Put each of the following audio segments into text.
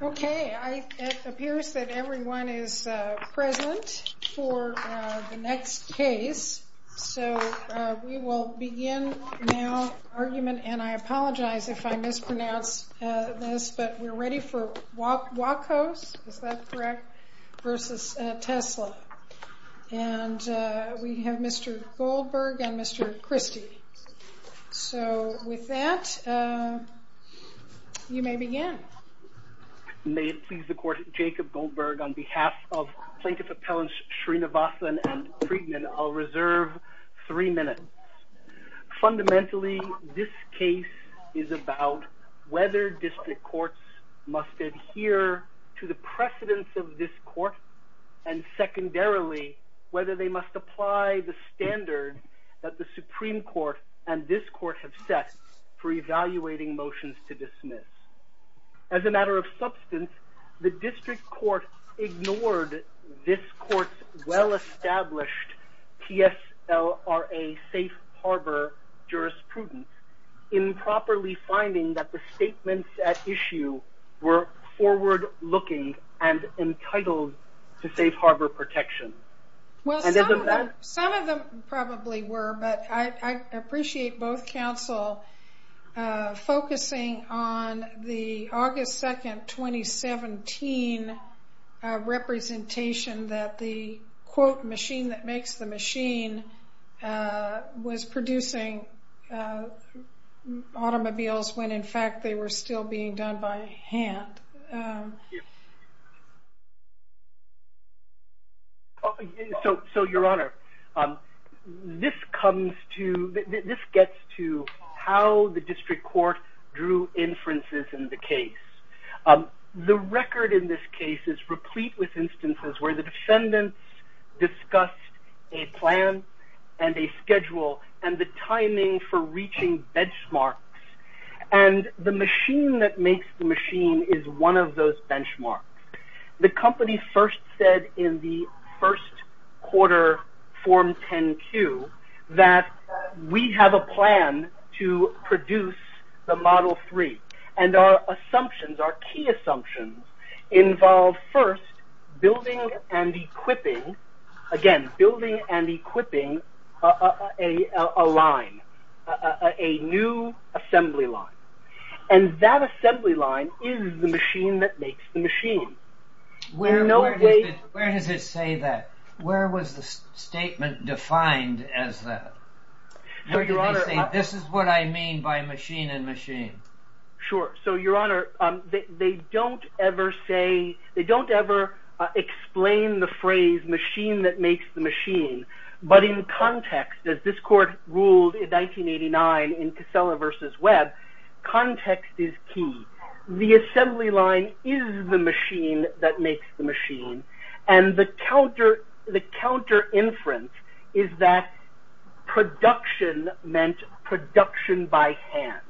Okay, it appears that everyone is present for the next case so we will begin now argument, and I apologize if I mispronounce this, but we're ready for Wachos, is that correct, versus Tesla. And we have Mr. Goldberg and Mr. Christy. So with that, you may begin. May it please the Court, Jacob Goldberg on behalf of Plaintiff Appellants Srinivasan and Friedman, I'll reserve three minutes. Fundamentally, this case is about whether district courts must adhere to the precedence of this court, and secondarily, whether they must apply the standard that the Supreme Court and this court have set for evaluating motions to dismiss. As a matter of substance, the district court ignored this court's well-established TSLRA safe harbor jurisprudence, improperly finding that the statements at issue were forward-looking and entitled to safe harbor jurisprudence. I appreciate both counsel focusing on the August 2nd, 2017 representation that the, quote, machine that makes the machine was producing automobiles when in fact they were still being done by hand. So, Your Honor, this comes to, this gets to how the district court drew inferences in the case. The record in this case is replete with instances where the defendants discussed a plan and a schedule and the timing for those benchmarks. The company first said in the first quarter Form 10-Q that we have a plan to produce the Model 3, and our assumptions, our key assumptions, involved first building and equipping, again, building and equipping a line, a new assembly line, and that assembly line is the machine that makes the machine. Where does it say that? Where was the statement defined as that? This is what I mean by machine and machine. Sure, so, Your Honor, they don't ever say, they don't ever explain the phrase machine that makes the machine, but in context, as this court ruled in 1989 in Casella v. Webb, context is key. The assembly line is the machine that makes the machine, and the counter, the counter inference is that production meant production by hand,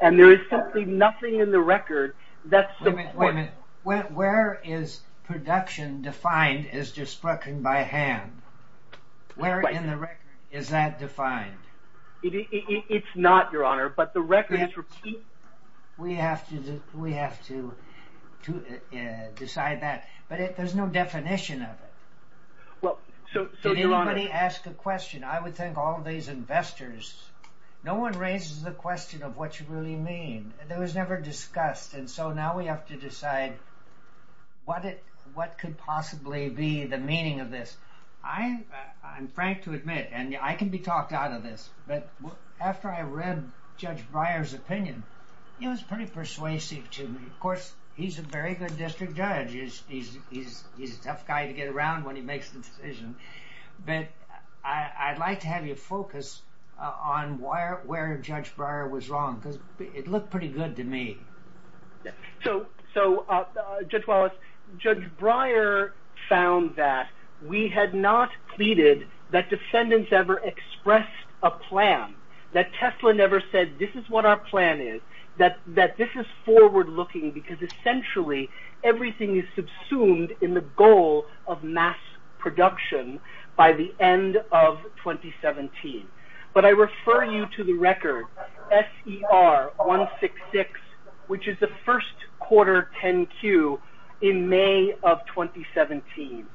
and there is simply nothing in the record that's... Wait a minute, where is production defined as production by hand? Where in the record is that defined? It's not, Your Honor, but the record is... We have to decide that, but there's no definition of it. Well, so, Your Honor... Did anybody ask a question? I would think all these investors... No one raises the question of what you really mean. It was never discussed, and so now we have to decide what it, what could possibly be the meaning of this. I'm frank to admit, and I can be talked out of this, but after I read Judge Breyer's opinion, he was pretty persuasive to me. Of course, he's a very good district judge. He's a tough guy to get around when he makes the decision, but I'd like to have you focus on where Judge Breyer was wrong, because it looked pretty good to me. So, Judge Wallace, Judge Breyer found that we had not pleaded that defendants ever expressed a plan, that Tesla never said, this is what our plan is, that this is forward-looking, because essentially, everything is subsumed in the goal of mass production by the end of 2017, but I refer you to the record S.E.R. 166, which is the first quarter 10-Q in May of 2017,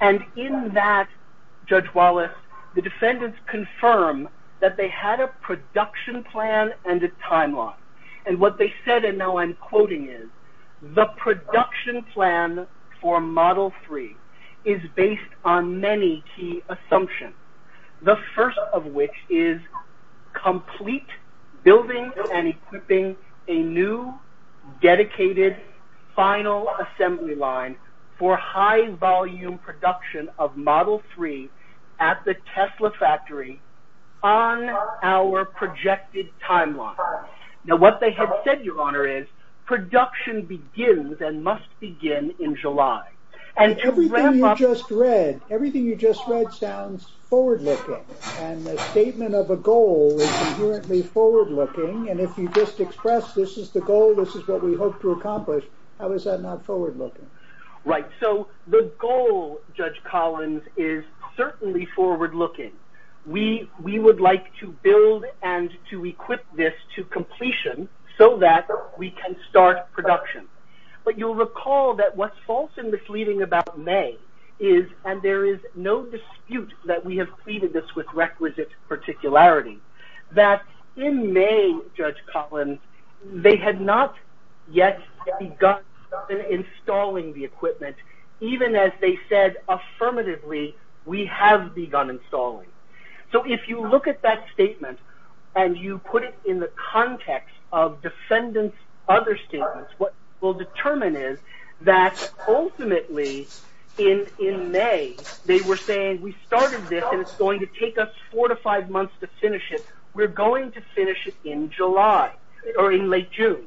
and in that, Judge Wallace, the defendants confirm that they had a production plan and a time-off, and what they said, and now I'm quoting is, the production plan for Model 3 is based on any key assumption, the first of which is complete building and equipping a new, dedicated, final assembly line for high-volume production of Model 3 at the Tesla factory on our projected timeline. Now, what they have said, Your Honor, is production begins and must begin in July. And everything you just read, everything you just read sounds forward-looking, and the statement of a goal is inherently forward-looking, and if you just express this is the goal, this is what we hope to accomplish, how is that not forward-looking? Right, so the goal, Judge Collins, is certainly forward-looking. We would like to build and to equip this to completion so that we can start production, but you'll recall that what's false and misleading about May is, and there is no dispute that we have treated this with requisite particularity, that in May, Judge Collins, they had not yet begun installing the equipment, even as they said affirmatively, we have begun installing. So if you look at that statement, what we'll determine is that ultimately, in May, they were saying we started this and it's going to take us four to five months to finish it. We're going to finish it in July, or in late June.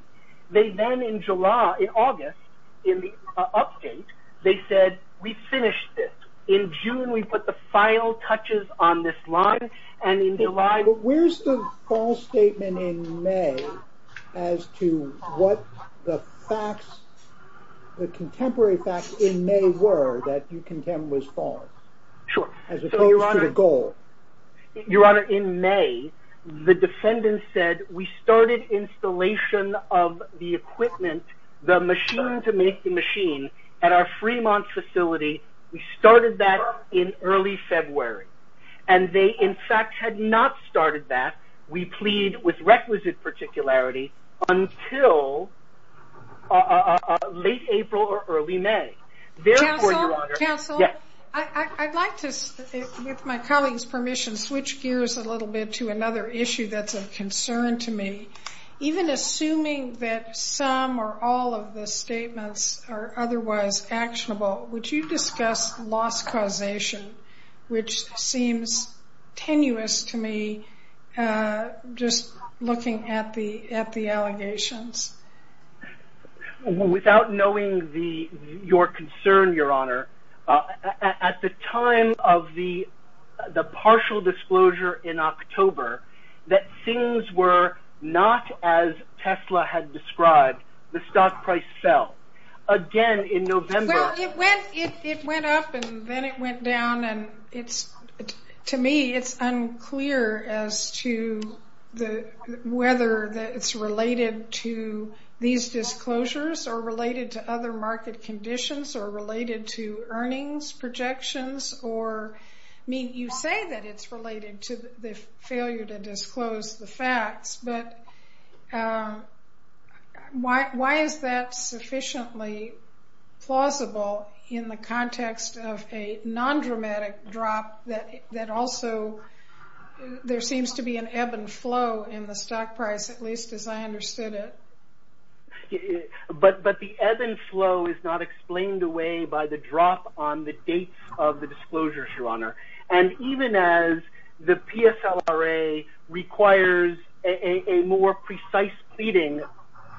They then, in July, in August, in the update, they said we finished this. In June, we put the final touches on this Where's the false statement in May as to what the facts, the contemporary facts in May were that you contend was false? Sure. As opposed to the goal. Your Honor, in May, the defendant said we started installation of the equipment, the machine to make the machine, at our Fremont facility. We started that in early February, and they in fact had not started that, we plead, with requisite particularity, until late April or early May. Therefore, Your Honor, I'd like to, with my colleague's permission, switch gears a little bit to another issue that's of concern to me. Even assuming that some or all of the statements are otherwise actionable, would you discuss loss causation, which seems tenuous to me, just looking at the at the allegations? Without knowing the your concern, Your Honor, at the time of the the partial disclosure in October, that things were not as Tesla had described, the stock price fell. Again, in November... Well, it went up and then it went down, and it's, to me, it's unclear as to whether it's related to these disclosures, or related to other market conditions, or related to earnings projections, or, I mean, you say that it's closed the facts, but why is that sufficiently plausible in the context of a non-dramatic drop that also, there seems to be an ebb and flow in the stock price, at least as I understood it. But the ebb and flow is not explained away by the drop on the dates of the disclosures, Your Honor, and even as the PSLRA requires a more precise pleading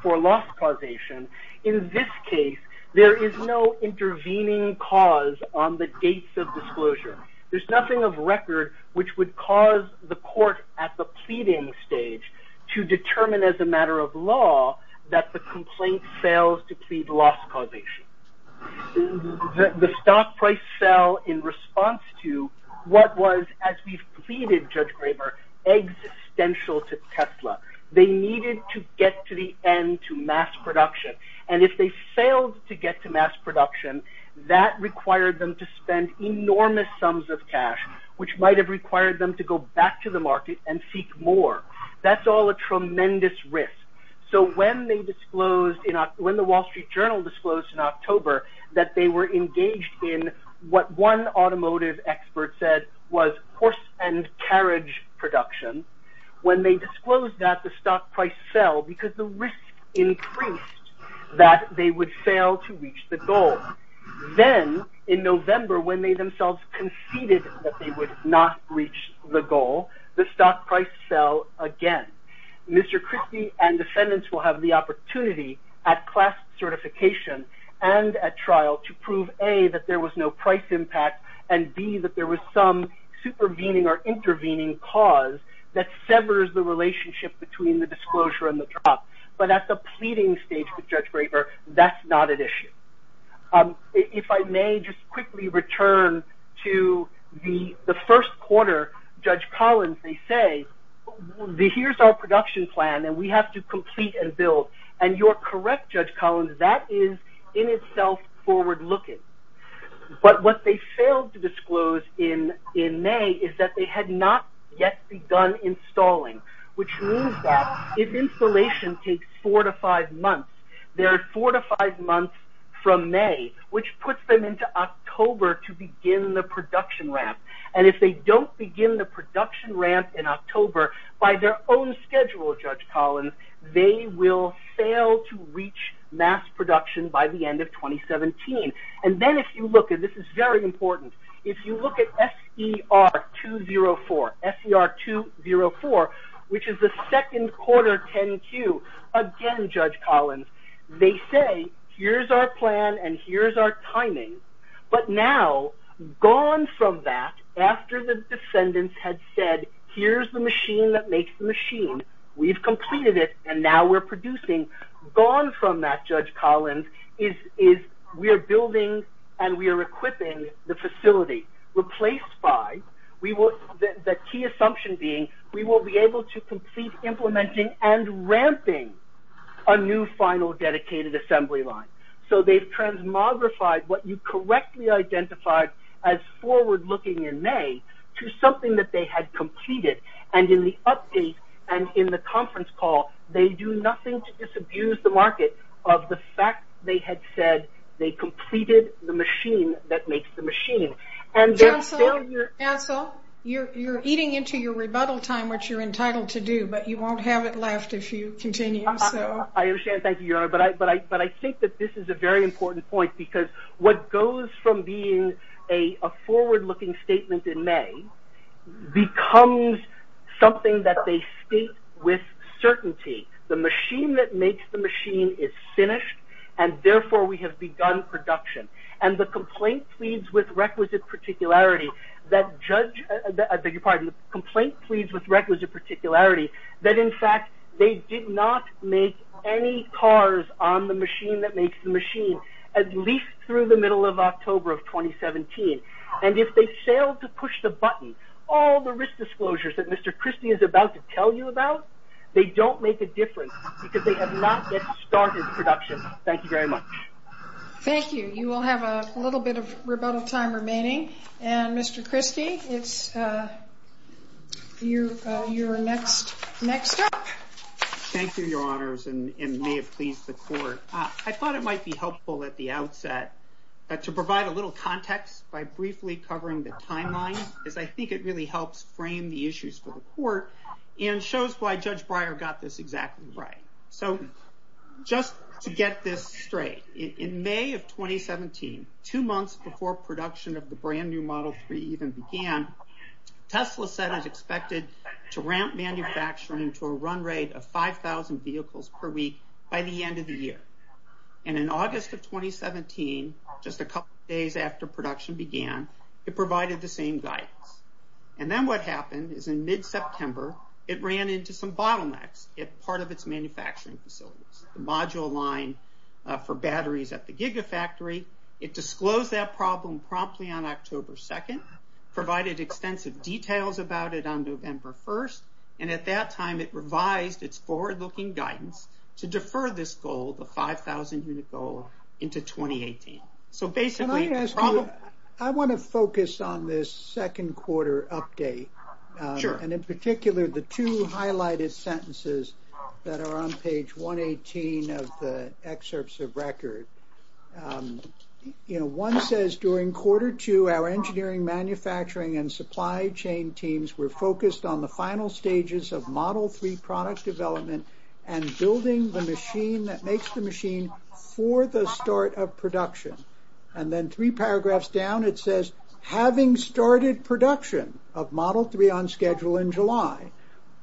for loss causation, in this case, there is no intervening cause on the dates of disclosure. There's nothing of record which would cause the court at the pleading stage to determine, as a matter of law, that the complaint fails to plead loss causation. The stock price fell in response to what was, as we've pleaded, Judge Graber, existential to Tesla. They needed to get to the end, to mass production, and if they failed to get to mass production, that required them to spend enormous sums of cash, which might have required them to go back to the market and seek more. That's all a tremendous risk. So when they disclosed, when the Wall Street Journal disclosed in October that they were engaged in what one automotive expert said was horse and carriage production, when they disclosed that, the stock price fell because the risk increased that they would fail to reach the goal. Then, in November, when they themselves conceded that they would not reach the goal, the stock price fell again. Mr. Graber had the opportunity at class certification and at trial to prove, A, that there was no price impact, and B, that there was some supervening or intervening cause that severs the relationship between the disclosure and the drop. But at the pleading stage with Judge Graber, that's not an issue. If I may just quickly return to the first quarter, Judge Collins, they say, here's our production plan and we have to complete and build, and you're correct, Judge Collins, that is in itself forward-looking. But what they failed to disclose in May is that they had not yet begun installing, which means that if installation takes four to five months, there are four to five months from May, which puts them into October to begin the production ramp. And if they don't begin the production ramp in October by their own schedule, Judge Collins, they will fail to reach mass production by the end of 2017. And then, if you look, and this is very important, if you look at SER204, which is the second quarter 10-Q, again, Judge Collins, they say, here's our plan and here's our timing. But now, gone from that, after the defendants had said, here's the machine that makes the machine, we've completed it and now we're producing, gone from that, Judge Collins, is we are building and we are equipping the facility. Replaced by, we will, the key assumption being, we will be able to complete implementing and ramping a new final dedicated assembly line. So they've transmogrified what you correctly identified as forward-looking in May to something that they had completed. And in the update and in the conference call, they do nothing to disabuse the market of the fact they had said they completed the machine that makes the machine. And they're still here... Ansel, you're eating into your rebuttal time, which you're entitled to do, but you won't have it left if you continue, so... I understand, thank you, Your Honor, but I think that this is a very important point because what goes from being a forward-looking statement in May becomes something that they state with certainty. The machine that makes the machine is finished and therefore we have begun production. And the complaint pleads with requisite particularity that Judge... I beg your pardon, the complaint pleads with requisite particularity that in fact they did not make any cars on the machine that makes the machine at least through the middle of October of 2017. And if they failed to push the button, all the risk disclosures that Mr. Christie is about to tell you about, they don't make a difference because they have not yet started production. Thank you very much. Thank you. You will have a little bit of rebuttal time remaining. And Mr. Christie, it's your next step. Thank you, Your Honors, and may it please the court. I thought it might be helpful at the outset to provide a little context by briefly covering the timeline because I think it really helps frame the issues for the court and shows why Judge Breyer got this exactly right. So just to get this straight, in May of 2017, two months before production of the brand-new Model 3 even began, Tesla said it was expected to ramp manufacturing to a run rate of 5,000 vehicles per week by the end of the year. And in August of 2017, just a couple days after production began, it provided the same guidance. And then what happened is in mid-September, it ran into some bottlenecks at part of its manufacturing facilities. The module line for batteries at the Gigafactory, it disclosed that problem promptly on November 1st, and at that time it revised its forward-looking guidance to defer this goal, the 5,000-unit goal, into 2018. So basically... Can I ask you, I want to focus on this second quarter update. Sure. And in particular, the two highlighted sentences that are on page 118 of the excerpts of record. You know, one says during quarter two, our engineering, manufacturing, and supply chain teams were focused on the final stages of Model 3 product development and building the machine that makes the machine for the start of production. And then three paragraphs down, it says, having started production of Model 3 on schedule in July.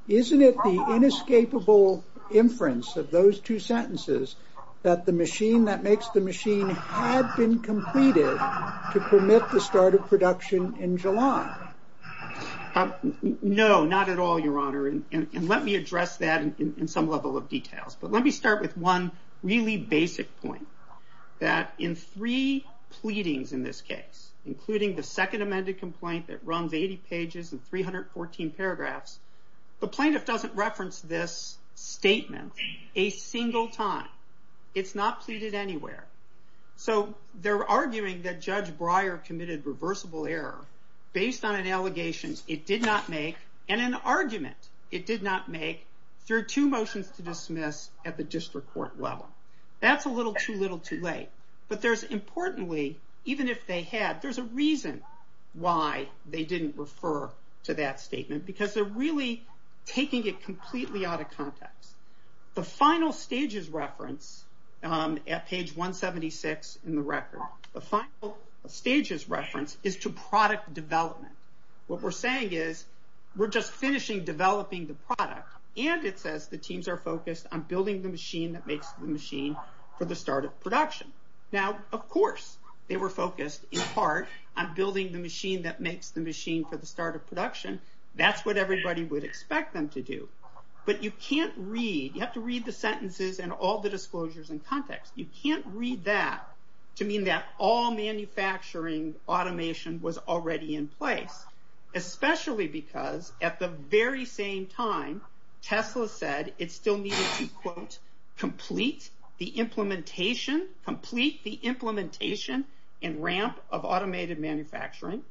Isn't it the inescapable inference of those two sentences that the machine that makes the machine had been completed to permit the start of production in July? No, not at all, Your Honor, and let me address that in some level of details. But let me start with one really basic point, that in three pleadings in this case, including the second amended complaint that runs 80 pages and 314 paragraphs, the plaintiff doesn't reference this statement a single time. It's not pleaded anywhere. So they're arguing that Judge Breyer committed reversible error based on an allegation it did not make, and an argument it did not make, through two motions to dismiss at the district court level. That's a little too little too late. But there's importantly, even if they had, there's a reason why they didn't refer to that statement, because they're really taking it completely out of context. The final stages reference at page 176 in the record, the final stages reference is to product development. What we're saying is, we're just finishing developing the product, and it says the teams are focused on building the machine that makes the machine for the start of production. Now, of course, they were focused in part on building the machine that makes the machine for the start of production. That's what everybody would expect them to do. But you can't read, you have to read the sentences and all the disclosures in context. You can't read that to mean that all manufacturing automation was already in place, especially because at the very same time, Tesla said it still needed to, quote, complete the implementation, complete the implementation and ramp of automated manufacturing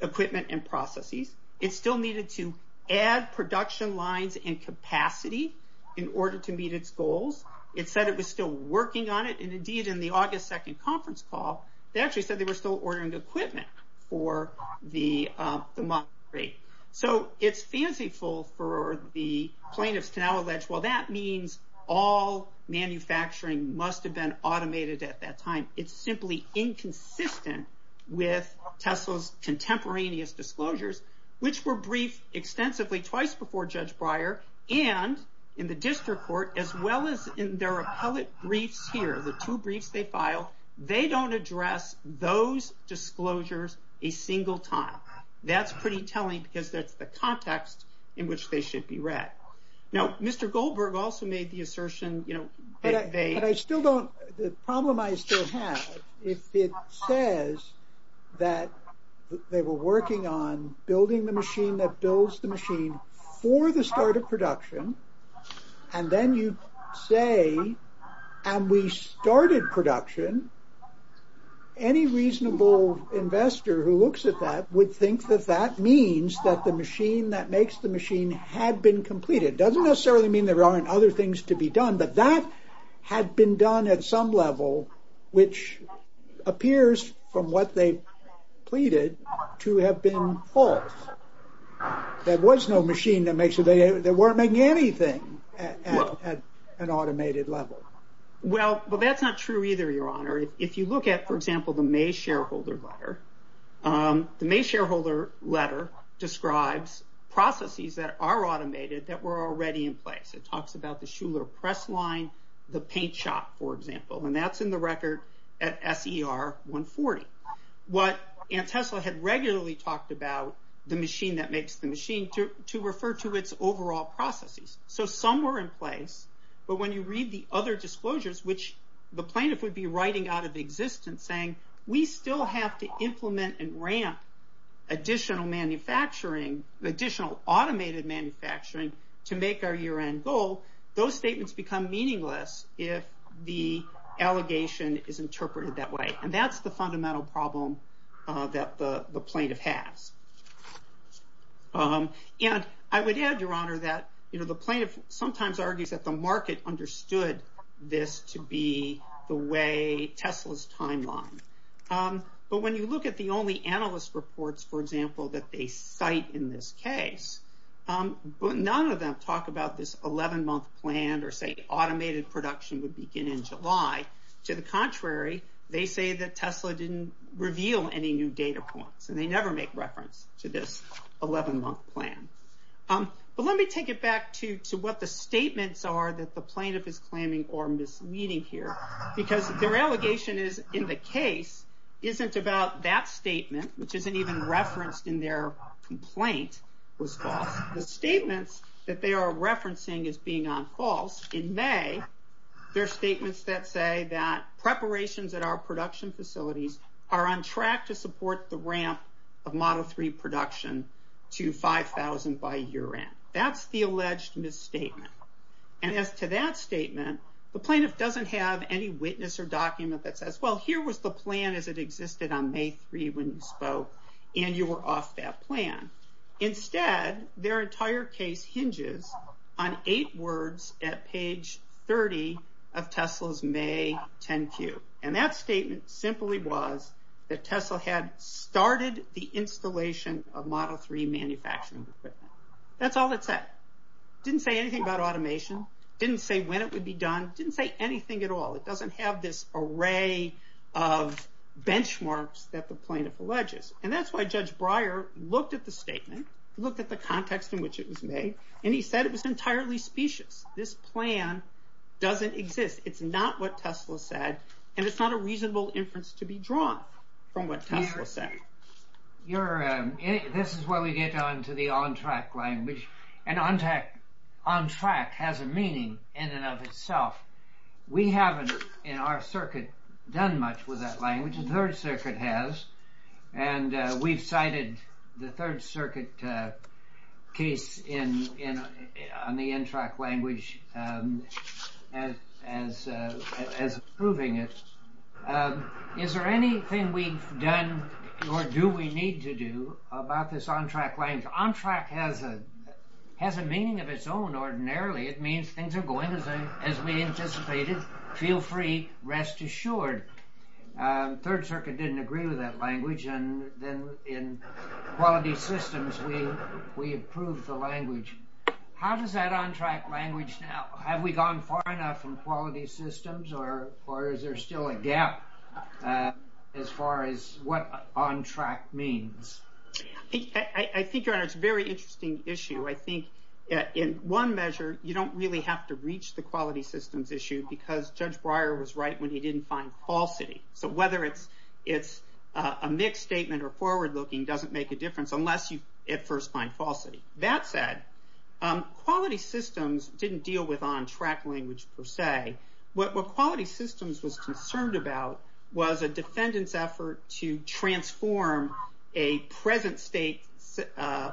equipment and processes. It still needed to add production lines and capacity in order to meet its goals. It said it was still working on it. And indeed, in the August 2nd conference call, they actually said they were still ordering equipment for the, the monthly. So, it's fanciful for the plaintiffs to now allege, well, that means all manufacturing must have been automated at that time. It's simply inconsistent with Tesla's contemporaneous disclosures, which were briefed extensively twice before Judge Breyer, and in the district court, as well as in their appellate briefs here, the two briefs they filed. They don't address those disclosures a single time. That's pretty telling because that's the context in which they should be read. Now, Mr. Goldberg also made the assertion, you know, that they. But I still don't, the problem I still have, if it says that they were working on building the machine that builds the machine for the start of production, and then you say, and we started production, any reasonable investor who looks at that would think that that means that the machine that makes the machine had been completed. Doesn't necessarily mean there aren't other things to be done, but that had been done at some level, which appears from what they pleaded to have been false. There was no machine that makes, they weren't making anything at an automated level. Well, but that's not true either, Your Honor. If you look at, for example, the May shareholder letter, the May shareholder letter describes processes that are automated that were already in place. It talks about the Schuller press line, the paint shop, for example, and that's in the record at SER 140. What Antesla had regularly talked about, the machine that makes the machine, to refer to its overall processes. So some were in place, but when you read the other disclosures, which the plaintiff would be writing out of existence saying, we still have to implement and ramp additional manufacturing, additional automated manufacturing to make our year-end goal, those statements become meaningless if the allegation is interpreted that way. And that's the fundamental problem that the plaintiff has. And I would add, Your Honor, that, you know, the plaintiff sometimes argues that the market understood this to be the way Tesla's timeline. But when you look at the only analyst reports, for example, that they have in this case, none of them talk about this 11-month plan or say automated production would begin in July. To the contrary, they say that Tesla didn't reveal any new data points, and they never make reference to this 11-month plan. But let me take it back to, to what the statements are that the plaintiff is claiming or misleading here, because their allegation is, in the case, isn't about that statement, which isn't even referenced in their complaint, was false. The statements that they are referencing as being on false, in May, they're statements that say that preparations at our production facilities are on track to support the ramp of Model 3 production to 5,000 by year-end. That's the alleged misstatement. And as to that statement, the plaintiff doesn't have any witness or on May 3 when you spoke, and you were off that plan. Instead, their entire case hinges on eight words at page 30 of Tesla's May 10 cue. And that statement simply was that Tesla had started the installation of Model 3 manufacturing equipment. That's all it said. Didn't say anything about automation, didn't say when it would be done, didn't say anything at all. It doesn't have this that the plaintiff alleges. And that's why Judge Breyer looked at the statement, looked at the context in which it was made, and he said it was entirely specious. This plan doesn't exist. It's not what Tesla said, and it's not a reasonable inference to be drawn from what Tesla said. You're, this is where we get down to the on track language. And on track, on track has a meaning in and of itself. We haven't, in our circuit, done much with that language. The Third Circuit has. And we've cited the Third Circuit case in, on the on track language as proving it. Is there anything we've done or do we need to do about this on track language? On track has a meaning of its own. Ordinarily, it means things are going as we anticipated. Feel free, rest assured. Third Circuit didn't agree with that language. And then in quality systems, we, we approved the language. How does that on track language now? Have we gone far enough from quality systems or, or is there still a gap as far as what on track means? I think, Your Honor, it's a very interesting issue. I think in one measure, you don't really have to reach the quality systems issue because Judge Breyer was right when he didn't find falsity. So whether it's, it's a mixed statement or forward looking doesn't make a difference unless you at first find falsity. That said, quality systems didn't deal with on track language per se. What, what quality systems was concerned about was a defendant's effort to transform a present state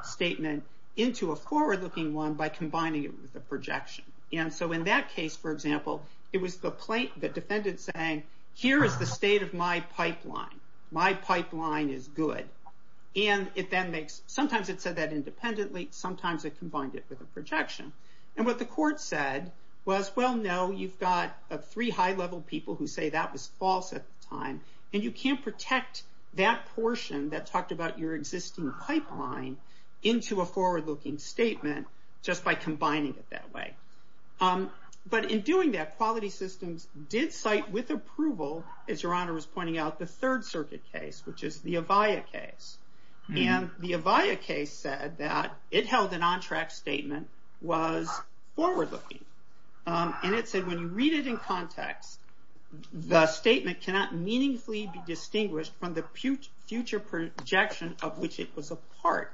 statement into a forward looking one by combining it with a projection. And so in that case, for example, it was the plaintiff, the defendant saying, here is the state of my pipeline. My pipeline is good. And it then makes, sometimes it said that independently, sometimes it combined it with a projection. And what the court said was, well, no, you've got a three high level people who say that was false at the time. And you can't protect that portion that talked about your existing pipeline into a forward looking statement just by combining it that way. But in doing that, quality systems did cite with approval, as your honor was pointing out, the third circuit case, which is the Avaya case. And the Avaya case said that it held an on track statement, was forward looking. And it said when you read it in context, the statement cannot meaningfully be distinguished from the future projection of which it was a part.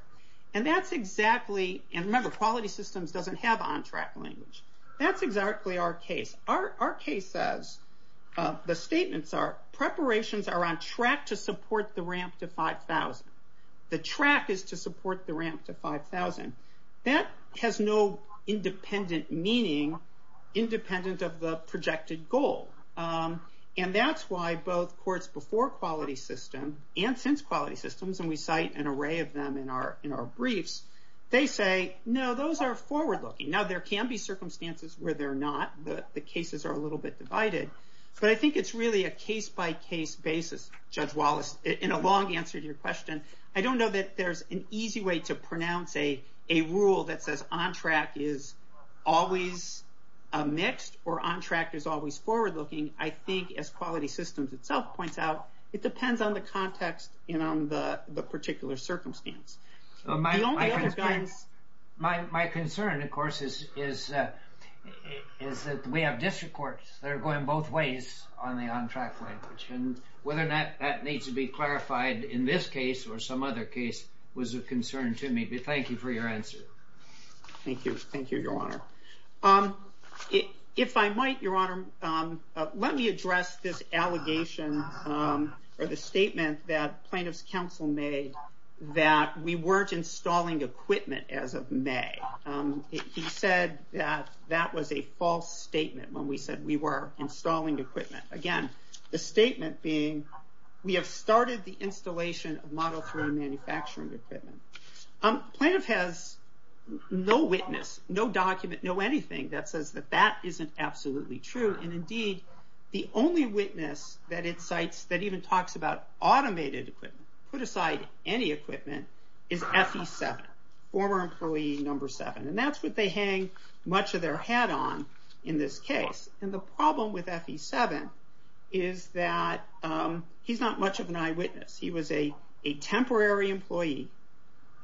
And that's exactly, and remember, quality systems doesn't have on track language. That's exactly our case. Our case says, the statements are, preparations are on track to support the ramp to 5,000. The track is to support the ramp to 5,000. That has no independent meaning, independent of the projected goal. And that's why both courts before quality system and since quality systems, and we cite an array of them in our briefs. They say, no, those are forward looking. Now there can be circumstances where they're not, but the cases are a little bit divided. But I think it's really a case by case basis, Judge Wallace, in a long answer to your question. I don't know that there's an easy way to pronounce a rule that says on track is always a mixed or on track is always forward looking. I think as quality systems itself points out, it depends on the context and on the particular circumstance. My concern, of course, is that we have district courts that are going both ways on the on track language. And whether that needs to be clarified in this case or some other case was a concern to me. But thank you for your answer. Thank you. Thank you, Your Honor. If I might, Your Honor, let me address this allegation or the statement that plaintiff's counsel made that we weren't installing equipment as of May. He said that that was a false statement when we said we were installing equipment. Again, the statement being we have started the installation of Model 3 manufacturing equipment. Plaintiff has no witness, no document, no anything that says that that isn't absolutely true. And indeed, the only witness that incites, that even talks about automated equipment, put aside any equipment, is FE7, former employee number seven. And that's what they hang much of their hat on in this case. And the problem with FE7 is that he's not much of an eyewitness. He was a temporary employee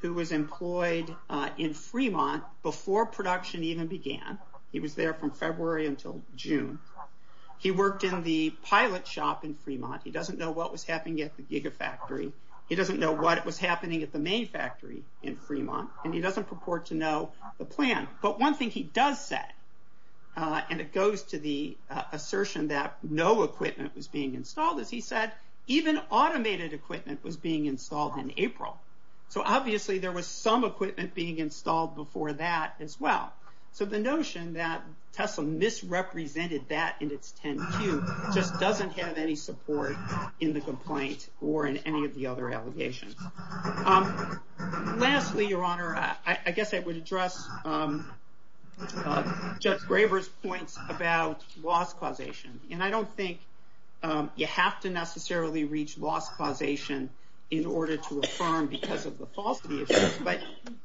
who was employed in Fremont before production even began. He was there from February until June. He worked in the pilot shop in Fremont. He doesn't know what was happening at the Gigafactory. He doesn't know what was happening at the main factory in Fremont. And he doesn't purport to know the plan. But one thing he does say, and it goes to the assertion that no equipment was being installed, is he said even automated equipment was being installed in April. So obviously there was some equipment being installed before that as well. So the notion that Tesla misrepresented that in its 10Q just doesn't have any support in the complaint or in any of the other allegations. Lastly, your honor, I guess I would address Judge Graber's points about loss causation. And I don't think you have to necessarily reach loss causation in order to affirm because of the falsity, but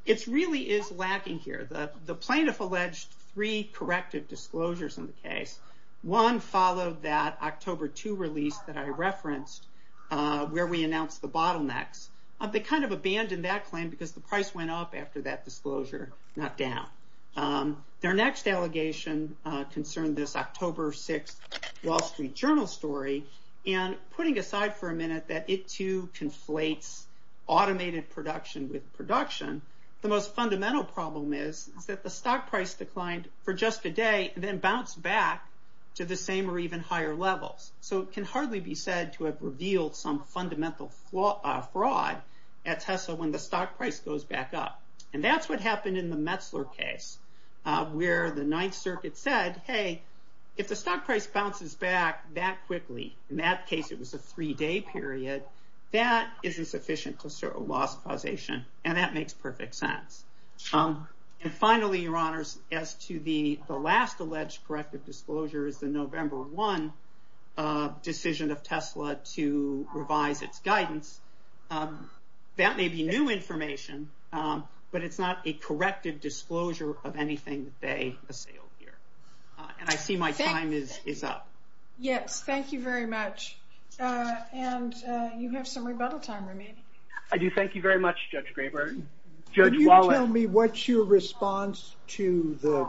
it really is lacking here. The plaintiff alleged three corrective disclosures in the case. One followed that October 2 release that I referenced where we announced the bottlenecks. They kind of abandoned that claim because the price went up after that disclosure, not down. Their next allegation concerned this October 6th Wall Street Journal story. And putting aside for a minute that it too conflates automated production with the stock price declined for just a day and then bounced back to the same or even higher levels. So it can hardly be said to have revealed some fundamental fraud at Tesla when the stock price goes back up. And that's what happened in the Metzler case, where the Ninth Circuit said, hey, if the stock price bounces back that quickly, in that case it was a three-day period, that isn't sufficient to assert a loss causation. And that makes perfect sense. And finally, Your Honors, as to the last alleged corrective disclosure is the November 1 decision of Tesla to revise its guidance. That may be new information, but it's not a corrective disclosure of anything that they assailed here. And I see my time is up. Yes, thank you very much. And you have some rebuttal time remaining. I do, thank you very much, Judge Graber. Judge Wallen. Can you tell me what's your response to the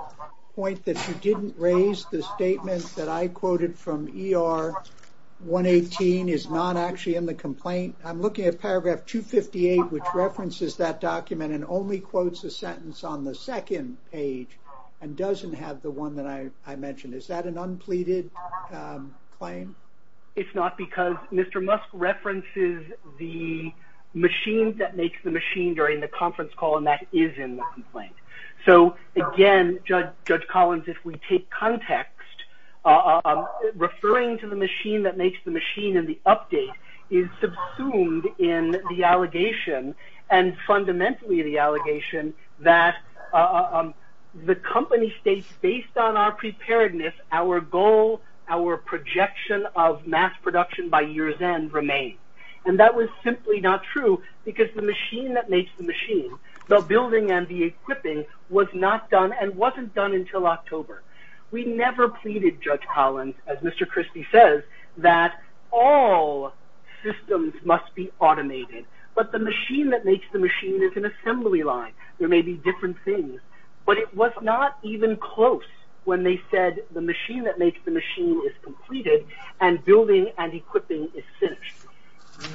point that you didn't raise the statement that I quoted from ER 118 is not actually in the complaint? I'm looking at paragraph 258, which references that document and only quotes a sentence on the second page and doesn't have the one that I mentioned. Is that an unpleaded claim? It's not, because Mr. Musk references the machine that makes the machine during the conference call, and that is in the complaint. So again, Judge Collins, if we take context, referring to the machine that makes the machine in the update is subsumed in the allegation and fundamentally the allegation that the company states, based on our preparedness, our goal, our projection of mass production by year's end remains. And that was simply not true, because the machine that makes the machine, the building and the equipping, was not done and wasn't done until October. We never pleaded, Judge Collins, as Mr. Christie says, that all systems must be automated, but the machine that makes the machine is an assembly line. There may be a machine that makes the machine is completed and building and equipping is finished.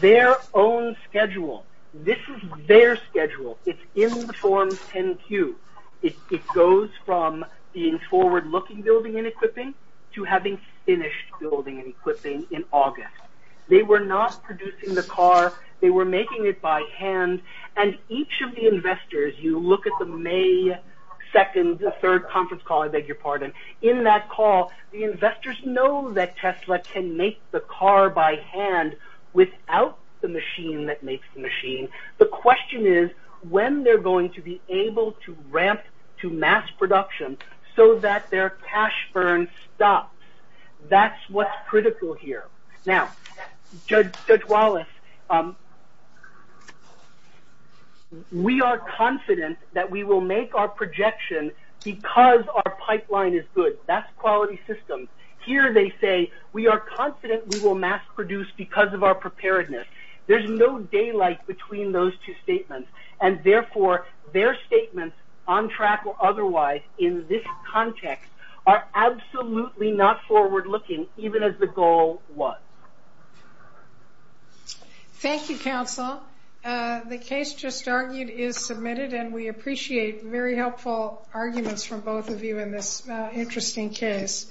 Their own schedule, this is their schedule, it's in the form 10-Q. It goes from being forward-looking building and equipping to having finished building and equipping in August. They were not producing the car, they were making it by hand, and each of the investors, you look at the May 2nd, the 3rd conference call, I investors know that Tesla can make the car by hand without the machine that makes the machine. The question is when they're going to be able to ramp to mass production so that their cash burn stops. That's what's critical here. Now, Judge Wallace, we are confident that we will make our projection because our pipeline is good. That's quality systems. Here, they say, we are confident we will mass produce because of our preparedness. There's no daylight between those two statements, and therefore, their statements, on track or otherwise, in this context, are absolutely not forward-looking, even as the goal was. Thank you, counsel. The case just argued is submitted, and we appreciate very interesting case.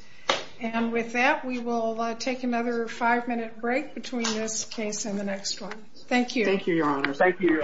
And with that, we will take another five-minute break between this case and the next one. Thank you. Thank you, Your Honor. Thank you.